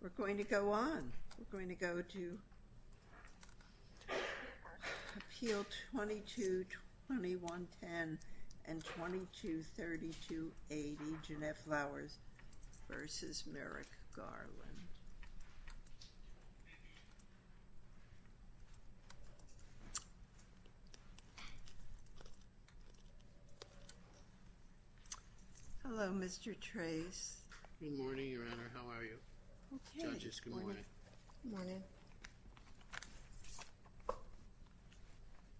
We're going to go on. We're going to go to Appeal 22-2110 and 22-3280, Jeannette Flowers v. Merrick Garland. Hello, Mr. Trace. Good morning, Your Honor. How are you? Okay. Judges, good morning. Good morning.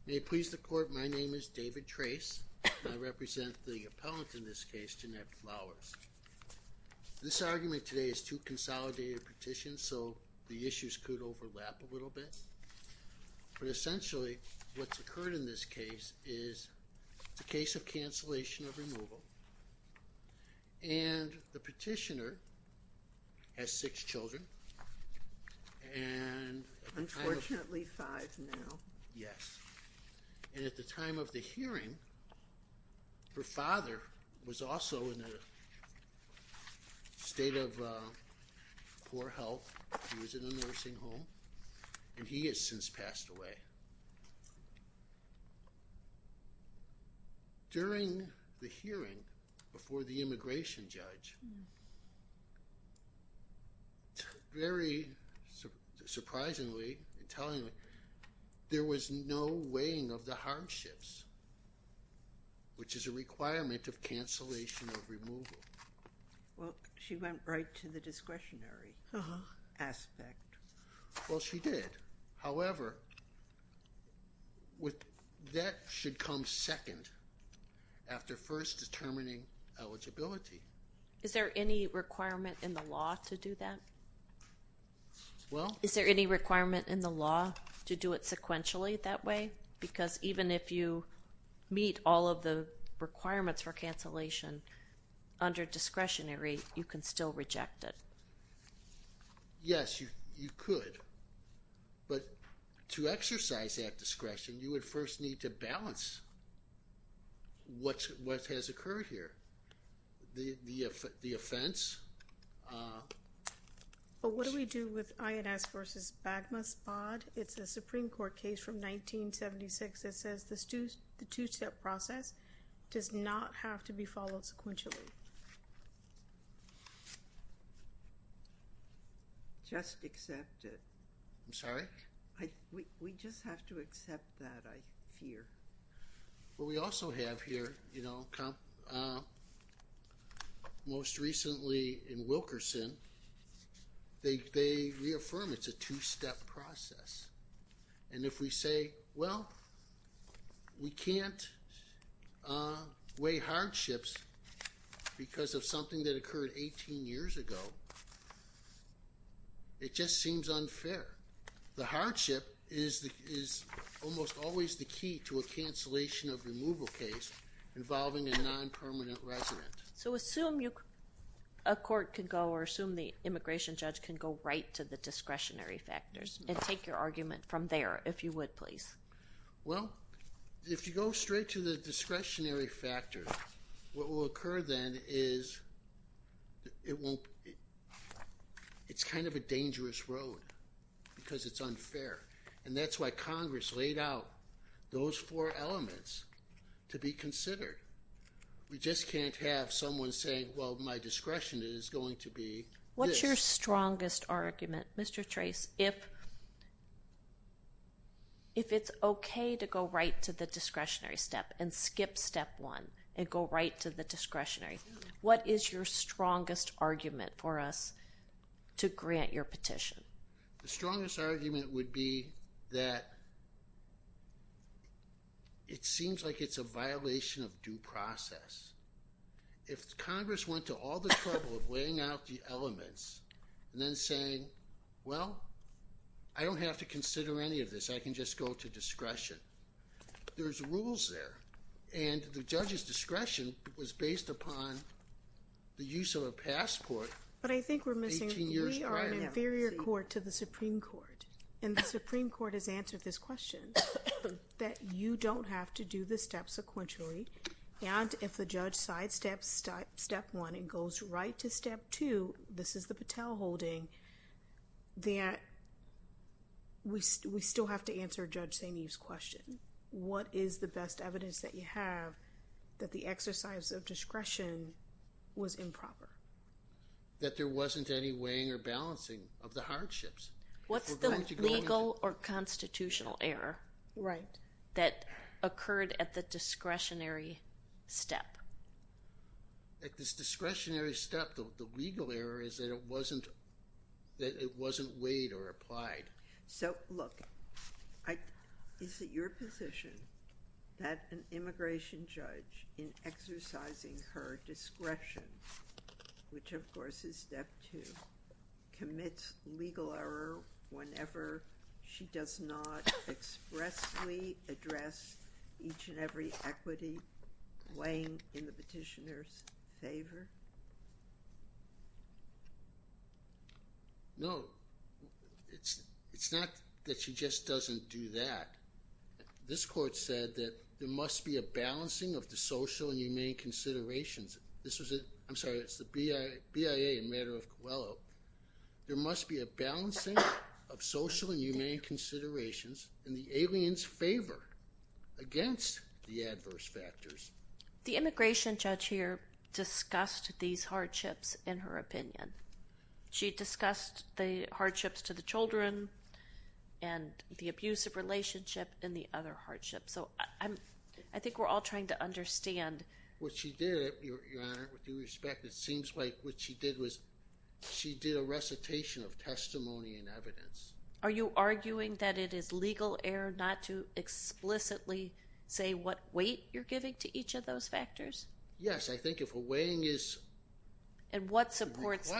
May it please the Court, my name is David Trace. I represent the appellant in this case, Jeannette Flowers. This argument today is two consolidated petitions, so the issues could overlap a little bit. But essentially, what's occurred in this case is it's a case of cancellation of removal and the petitioner has six children and Unfortunately, five now. Yes. And at the time of the hearing, her father was also in a state of poor health. He was in a nursing home and he has since passed away. During the hearing before the immigration judge, very surprisingly and tellingly, there was no weighing of the harm shifts, which is a requirement of cancellation of removal. Well, she went right to the discretionary aspect. Well, she did. However, that should come second after first determining eligibility. Is there any requirement in the law to do that? Well Is there any requirement in the law to do it sequentially that way? Because even if you meet all of the requirements for cancellation under discretionary, you can still reject it. Yes, you could. But to exercise that discretion, you would first need to balance what has occurred here. The offense. Well, what do we do with INS versus Bagmas Bod? It's a Supreme Court case from 1976 that says the two-step process does not have to be followed sequentially. Just accept it. I'm sorry? We just have to accept that, I fear. Well, we also have here, you know, most recently in Wilkerson, they reaffirm it's a two-step process. And if we say, well, we can't weigh hardships, because of something that occurred 18 years ago, it just seems unfair. The hardship is almost always the key to a cancellation of removal case involving a non-permanent resident. So assume a court can go, or assume the immigration judge can go right to the discretionary factors, and take your argument from there, if you would, please. Well, if you go straight to the discretionary factors, what will occur then is it won't, it's kind of a dangerous road, because it's unfair. And that's why Congress laid out those four elements to be considered. We just can't have someone saying, well, my discretion is going to be this. What's your strongest argument, Mr. Trace, if it's okay to go right to the discretionary step and skip step one, and go right to the discretionary? What is your strongest argument for us to grant your petition? The strongest argument would be that it seems like it's a violation of due process. If Congress went to all the trouble of laying out the elements, and then saying, well, I don't have to consider any of this, I can just go to discretion. There's rules there, and the judge's discretion was based upon the use of a passport 18 years prior. But I think we're missing, we are an inferior court to the Supreme Court, and the Supreme Court has answered this question, that you don't have to do the steps sequentially, and if the judge sidesteps step one and goes right to step two, this is the Patel holding, that we still have to answer Judge Saineev's question. What is the best evidence that you have that the exercise of discretion was improper? That there wasn't any weighing or balancing of the hardships. What's the legal or constitutional error that occurred at the discretionary step? At this discretionary step, the legal error is that it wasn't weighed or applied. So look, is it your position that an immigration judge in exercising her discretion, which of course is step two, commits legal error whenever she does not expressly address No, it's not that she just doesn't do that. This court said that there must be a balancing of the social and humane considerations. This was, I'm sorry, it's the BIA in matter of Coelho. There must be a balancing of social and humane considerations in the alien's favor against the adverse factors. The immigration judge here in her opinion. She discussed the hardships to the children and the abusive relationship and the other hardships. So I think we're all trying to understand. What she did, Your Honor, with due respect, it seems like what she did was she did a recitation of testimony and evidence. Are you arguing that it is legal error not to explicitly say what weight you're giving to each of those factors? Yes, I think if a weighing is required. And what supports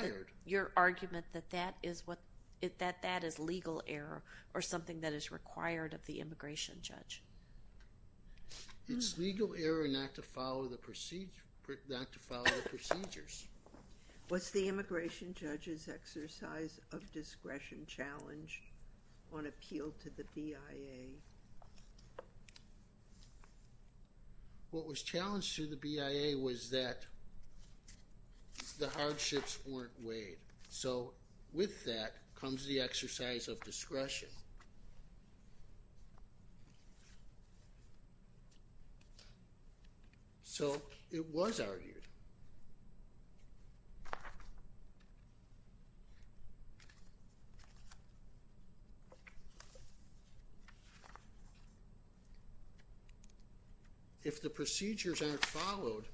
your argument that that is legal error or something that is required of the immigration judge? It's legal error not to follow the procedures. Was the immigration judge's exercise of discretion challenged on appeal to the BIA? What was challenged to the BIA was that the hardships weren't weighed. So with that comes the exercise of discretion. So it was argued. If the procedures aren't followed,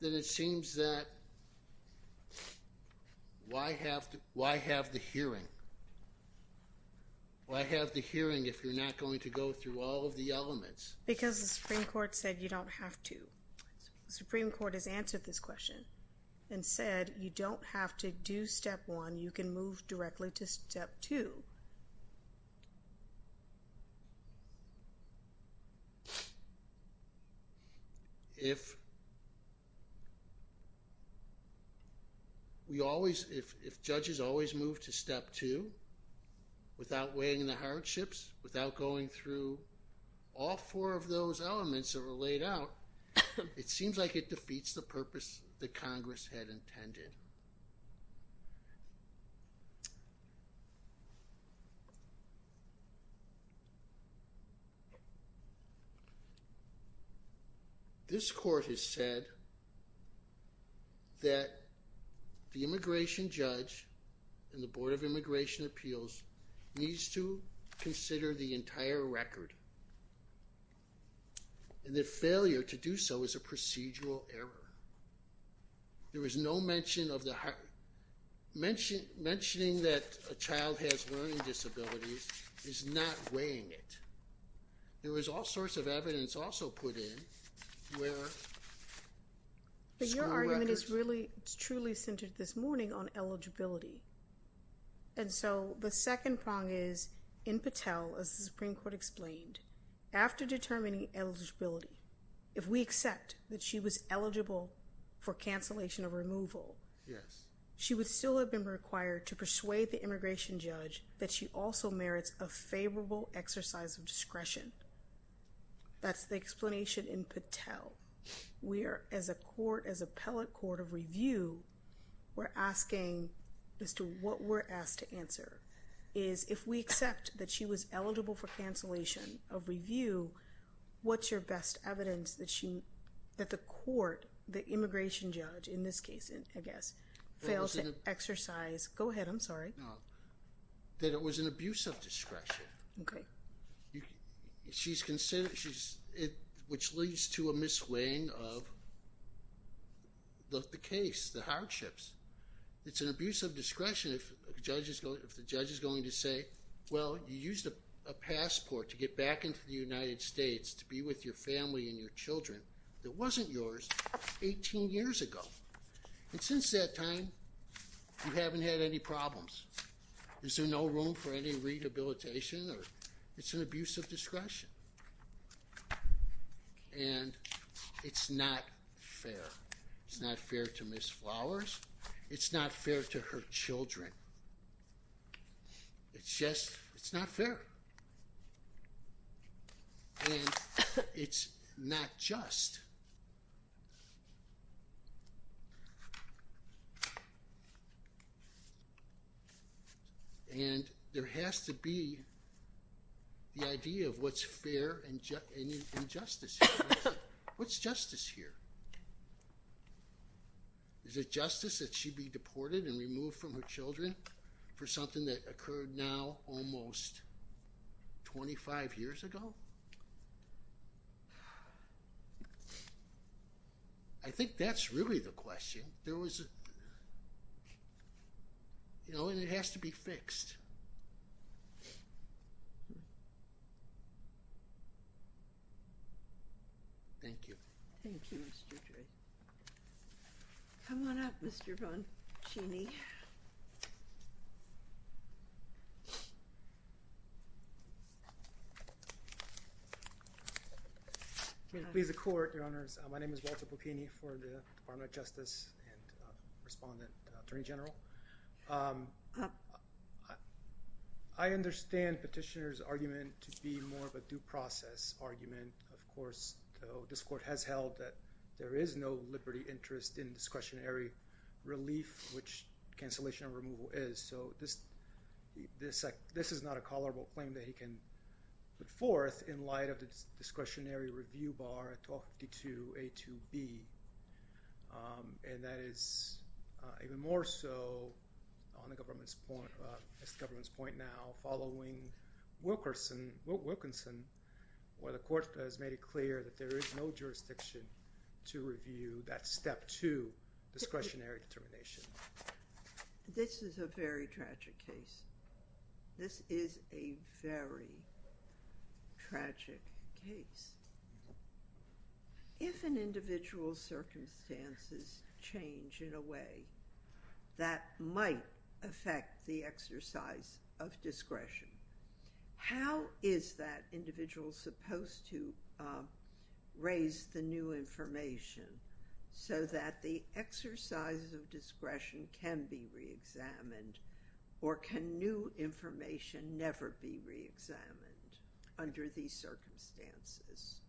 then it seems that why have the hearing? Why have the hearing if you're not going to go through all of the elements? Because the Supreme Court said you don't have to. The Supreme Court has answered this question and said you don't have to do step one. You can move directly to step two. If judges always move to step two without weighing the hardships, without going through all four of those elements that were laid out, it seems like it defeats the purpose that Congress had intended. This court has said that the immigration judge and the Board of Immigration Appeals needs to consider the entire record. And the failure to do so is a procedural error. mention of the hard... Mentioning that a child has learning disabilities is not weighing it. There is all sorts of evidence also put in where school records... But your argument is really, truly centered this morning on eligibility. And so the second prong is in Patel, as the Supreme Court explained, after determining eligibility, if we accept that she was eligible for cancellation of removal, she would still have been required to persuade the immigration judge that she also merits a favorable exercise of discretion. That's the explanation in Patel. We are, as a court, as appellate court of review, we're asking as to what we're asked to answer is if we accept that she was eligible for cancellation of review, what's your best evidence that she... that the court, the immigration judge, in this case, I guess, failed to exercise... Go ahead, I'm sorry. That it was an abuse of discretion. Okay. She's considered... Which leads to a misweighing of the case, the hardships. It's an abuse of discretion if the judge is going to say, to get back into the United States to be with your family and your children that wasn't yours 18 years ago. And since that time, you haven't had any problems. Is there no room for any rehabilitation? It's an abuse of discretion. And it's not fair. It's not fair to Ms. Flowers. It's not fair to her children. It's just... It's not fair. And it's not just. And there has to be the idea of what's fair and justice here. What's justice here? Is it justice that she be deported and removed from her children for something that occurred now almost 25 years ago? I think that's really the question. There was... And it has to be fixed. Thank you. Thank you, Mr. Dre. Come on up, Mr. Boncini. Please. Please, the Court, Your Honors. My name is Walter Bocchini for the Department of Justice and Respondent Attorney General. I understand Petitioner's argument to be more of a due process argument. Of course, this Court has held that there is no liberty interest in discretionary relief, which cancellation and removal is. So this is not a tolerable claim that he can put forth in light of the discretionary review bar at 1252A2B. And that is even more so on the government's point, as the government's point now, following Wilkinson, where the Court has made it clear that there is no jurisdiction to review that Step 2 discretionary determination. This is a very tragic case. This is a very tragic case. If an individual's circumstances change in a way that might affect the exercise of discretion, how is that individual supposed to raise the new information so that the exercise of discretion can be reexamined, or can new information never be reexamined under these circumstances?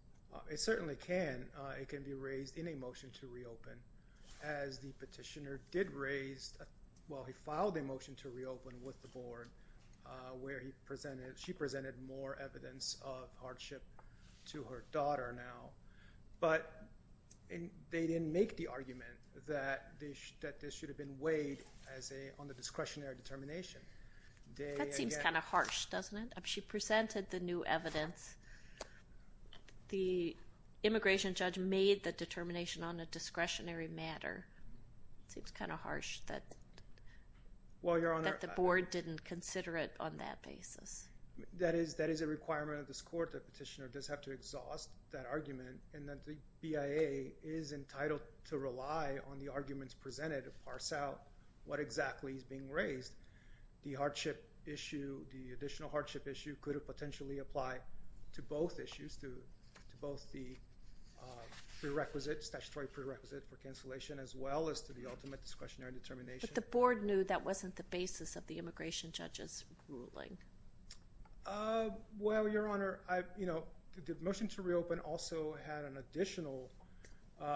It certainly can. It can be raised in a motion to reopen, as the Petitioner did raise, well, he filed a motion to reopen with the Board, where she presented more evidence of hardship to her daughter now. But they didn't make the argument that this should have been weighed on the discretionary determination. That seems kind of harsh, doesn't it? She presented the new evidence. The immigration judge made the determination on a discretionary matter. It seems kind of harsh that the Board didn't consider it on that basis. That is a requirement of this Court that the Petitioner does have to exhaust that argument, and that the BIA is entitled to rely on the arguments presented to parse out what exactly is being raised. The hardship issue, the additional hardship issue, could potentially apply to both issues, to both the prerequisites, statutory prerequisite for cancellation, as well as to the ultimate discretionary determination. But the Board knew that wasn't the basis of the immigration judge's ruling. Well, Your Honor, the motion to reopen also had an additional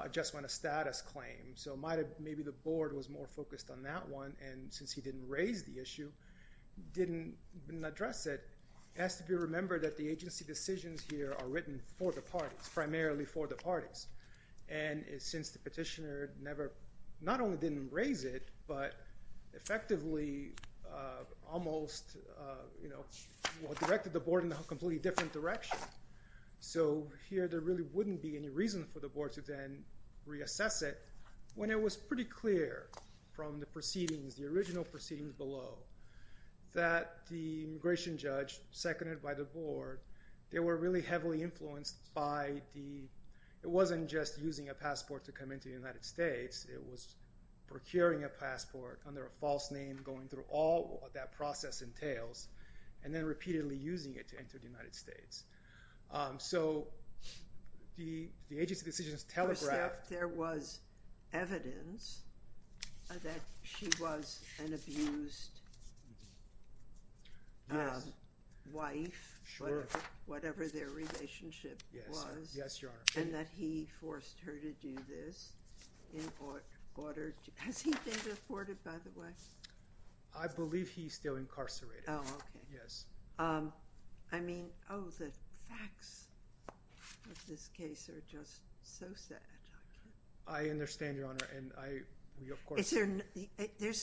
adjustment of status claim. So maybe the Board was more focused on that one, and since he didn't raise the issue, didn't address it, it has to be remembered that the agency decisions here are written for the parties, primarily for the parties. And since the Petitioner not only didn't raise it, but effectively almost directed the Board in a completely different direction. So here there really wouldn't be any reason for the Board to then reassess it when it was pretty clear from the proceedings, the original proceedings below, that the immigration judge, seconded by the Board, they were really heavily influenced by the, it wasn't just using a passport to come into the United States, it was procuring a passport under a false name, going through all that process entails, and then repeatedly using it to enter the United States. So the agency decisions telegraphed. First off, there was evidence that she was an abused wife, whatever their relationship was, and that he forced her to do this in order to, has he been deported by the way? I believe he's still incarcerated. Oh, okay. Yes. I mean, oh, the facts of this case are just so sad. I understand, Your Honor, and we of course... Is there,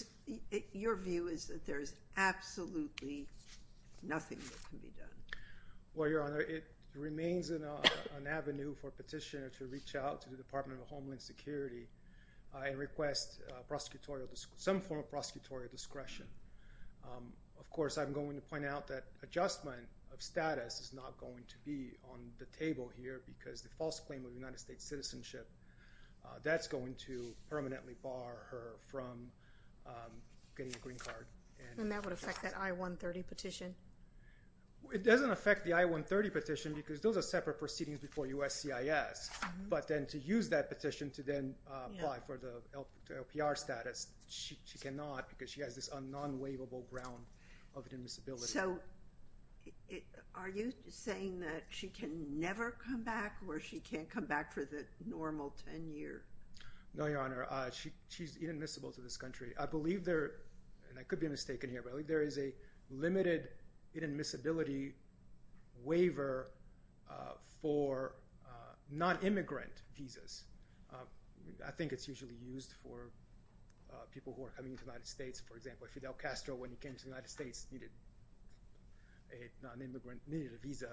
your view is that there is absolutely nothing that can be done. Well, Your Honor, it remains an avenue for a petitioner to reach out to the Department of Homeland Security and request prosecutorial, some form of prosecutorial discretion. Of course, I'm going to point out that adjustment of status is not going to be on the table here because the false claim of United States citizenship, that's going to permanently bar her from getting a green card. And that would affect that I-130 petition? It doesn't affect the I-130 petition because those are separate proceedings before USCIS, but then to use that petition to then apply for the LPR status, she cannot because she has this non-waivable ground of inadmissibility. So, are you saying that she can never come back or she can't come back for the normal 10 years? No, Your Honor. She's inadmissible to this country. I believe there, and I could be mistaken here, but I believe there is a limited inadmissibility waiver for non-immigrant visas. I think it's usually used for people who are coming to the United States. For example, Fidel Castro, when he came to the United States, needed a non-immigrant visa.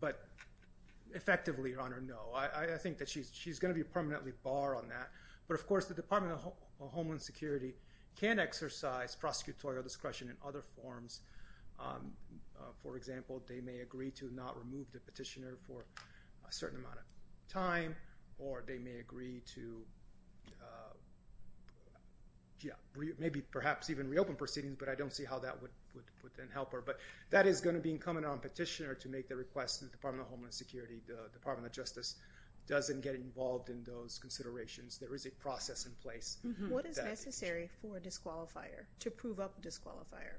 But effectively, Your Honor, no. I think that she's going to be permanently barred on that. But of course, the Department of Homeland Security can exercise prosecutorial discretion in other forms. For example, they may agree to not remove the petitioner for a certain amount of time or they may agree to maybe perhaps even reopen proceedings, but I don't see how that would help her. But that is going to be incumbent on the petitioner to make the request to the Department of Homeland Security. The Department of Justice doesn't get involved in those considerations. There is a process in place. What is necessary for a disqualifier to prove up a disqualifier?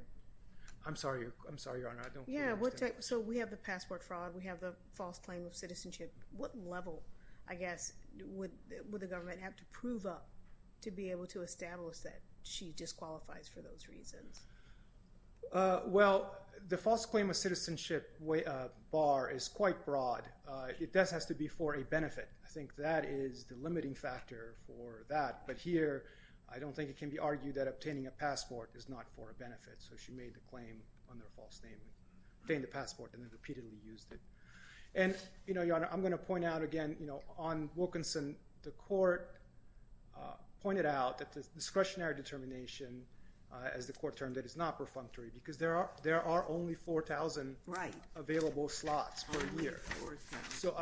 I'm sorry, Your Honor. I don't fully understand. So, we have the passport fraud. We have the false claim of citizenship. What level, I guess, would the government have to prove up to be able to establish that she disqualifies for those reasons? Well, the false claim of citizenship bar is quite broad. It does have to be for a benefit. I think that is the limiting factor for that. But here, I don't think it can be argued that obtaining a passport is not for a benefit. So, she made the claim under a false name. Obtained the passport and then repeatedly used it. And, Your Honor, I'm going to point out again, on Wilkinson, the court pointed out that the discretionary determination, as the court termed it, is not perfunctory because there are only 4,000 available slots per year. So,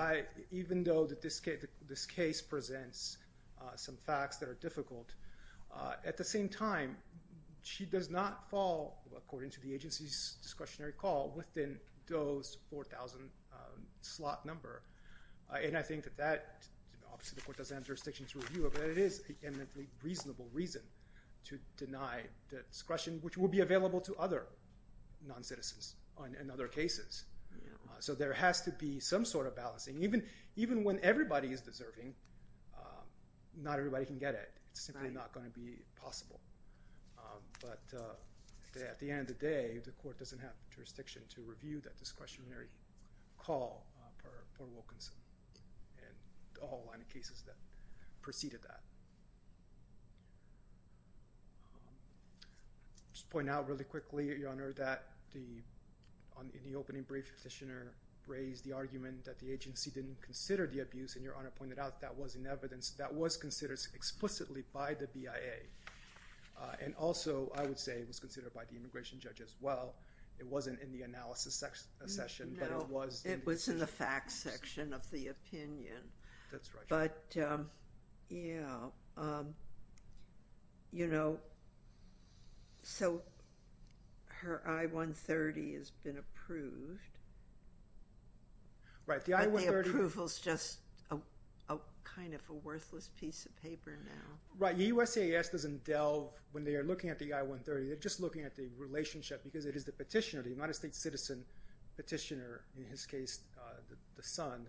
even though this case presents some facts that are difficult, at the same time, she does not fall, according to the agency's discretionary call, within those 4,000 slot number. And I think that, obviously the court doesn't have jurisdiction to review it, but it is a reasonable reason to deny the discretion, which will be available to other non-citizens in other cases. So, there has to be some sort of balancing. Even when everybody is deserving, not everybody can get it. It's simply not going to be possible. But, at the end of the day, the court doesn't have jurisdiction to review that discretionary call per Wilkinson and the whole line of cases that preceded that. I'll just point out really quickly, Your Honor, that in the opening brief, the petitioner raised the argument that the agency didn't consider the abuse, and Your Honor pointed out that wasn't evidence. That was considered explicitly by the BIA. And also, I would say, it was considered by the immigration judge as well. It wasn't in the analysis session, but it was. It was in the facts section of the opinion. That's right, Your Honor. But, yeah. You know, so her I-130 has been approved. Right, the I-130... But the approval is just kind of a worthless piece of paper now. Right. The USCIS doesn't delve, when they are looking at the I-130, they're just looking at the relationship because it is the petitioner, the United States citizen petitioner, in his case, the son,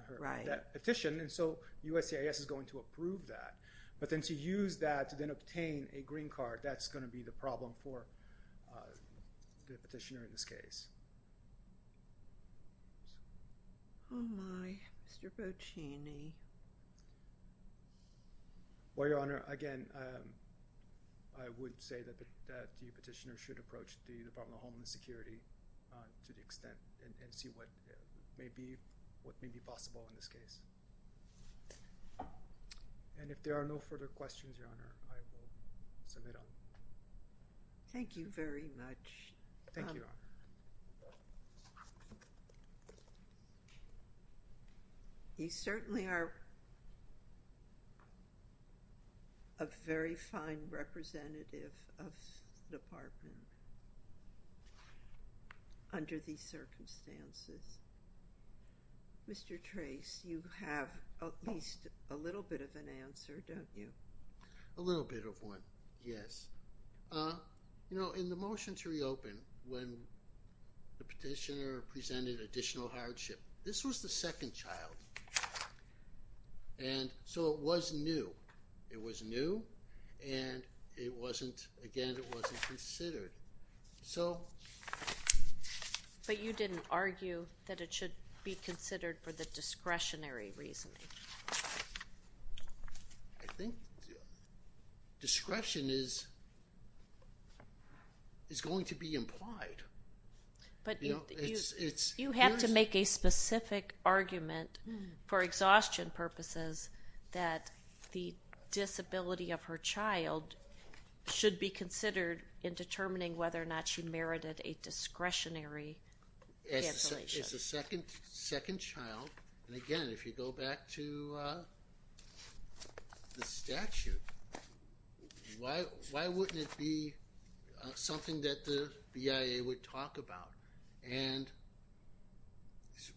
that petitioned, and so USCIS is going to approve that. But then to use that to then obtain a green card, that's going to be the problem for the petitioner in this case. Oh, my. Mr. Boccini. Well, Your Honor, again, I would say that the petitioner should approach the Department of Homeland Security to the extent and see what may be possible in this case. And if there are no further questions, Your Honor, I will submit on. Thank you very much. Thank you, Your Honor. You certainly are a very fine representative of the Department under these circumstances. Mr. Trace, you have at least a little bit of an answer, don't you? A little bit of one, yes. You know, in the motion to reopen, when the petitioner presented additional hardship, this was the second child, and so it was new. It was new, and it wasn't, again, it wasn't considered. But you didn't argue that it should be considered for the discretionary reasoning. I think discretion is going to be implied. But you have to make a specific argument for exhaustion purposes that the disability of her child should be considered in determining whether or not she merited a discretionary cancellation. It's the second child. And again, if you go back to the statute, why wouldn't it be something that the BIA would talk about? And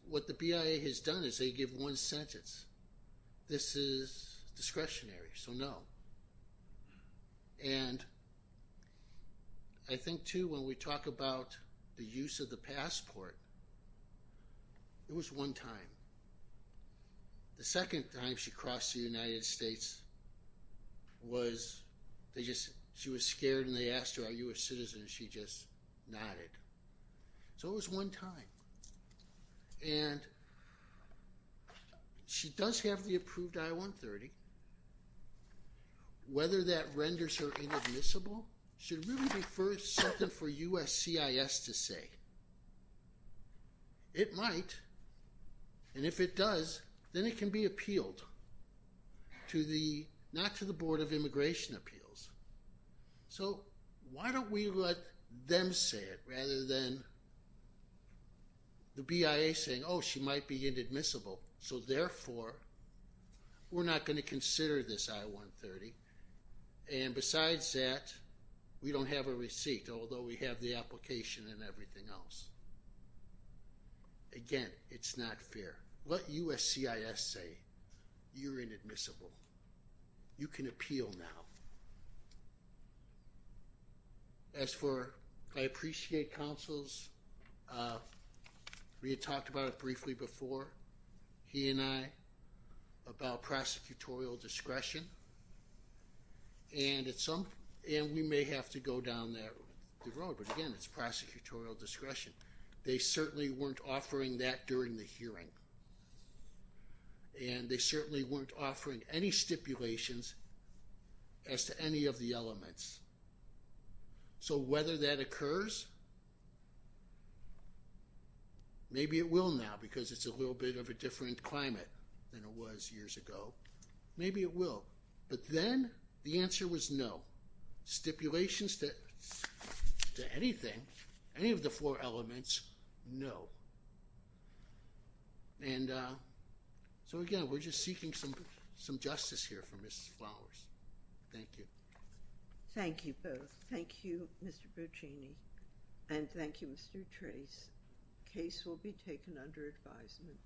what the BIA has done is they give one sentence. This is discretionary, so no. And I think, too, when we talk about the use of the passport, it was one time. The second time she crossed the United States was she was scared, and they asked her, are you a citizen? She just nodded. So it was one time. And she does have the approved I-130. Whether that renders her inadmissible should really be something for USCIS to say. It might, and if it does, then it can be appealed not to the Board of Immigration Appeals. So why don't we let them say it rather than the BIA saying, oh, she might be inadmissible. So therefore, we're not going to consider this I-130. And besides that, we don't have a receipt, although we have the application and everything else. Again, it's not fair. Let USCIS say, you're inadmissible. You can appeal now. As for I appreciate counsels, we had talked about it briefly before, he and I, about prosecutorial discretion, and we may have to go down that road, but again, it's prosecutorial discretion. They certainly weren't offering that during the hearing, and they certainly weren't offering any stipulations as to any of the elements. So whether that occurs, maybe it will now because it's a little bit of a different climate than it was years ago. Maybe it will, but then the answer was no. Stipulations to anything, any of the four elements, no. And so again, we're just seeking some justice here for Mrs. Flowers. Thank you. Thank you both. Thank you, Mr. Buccini, and thank you, Mr. Tracz. Case will be taken under advisement.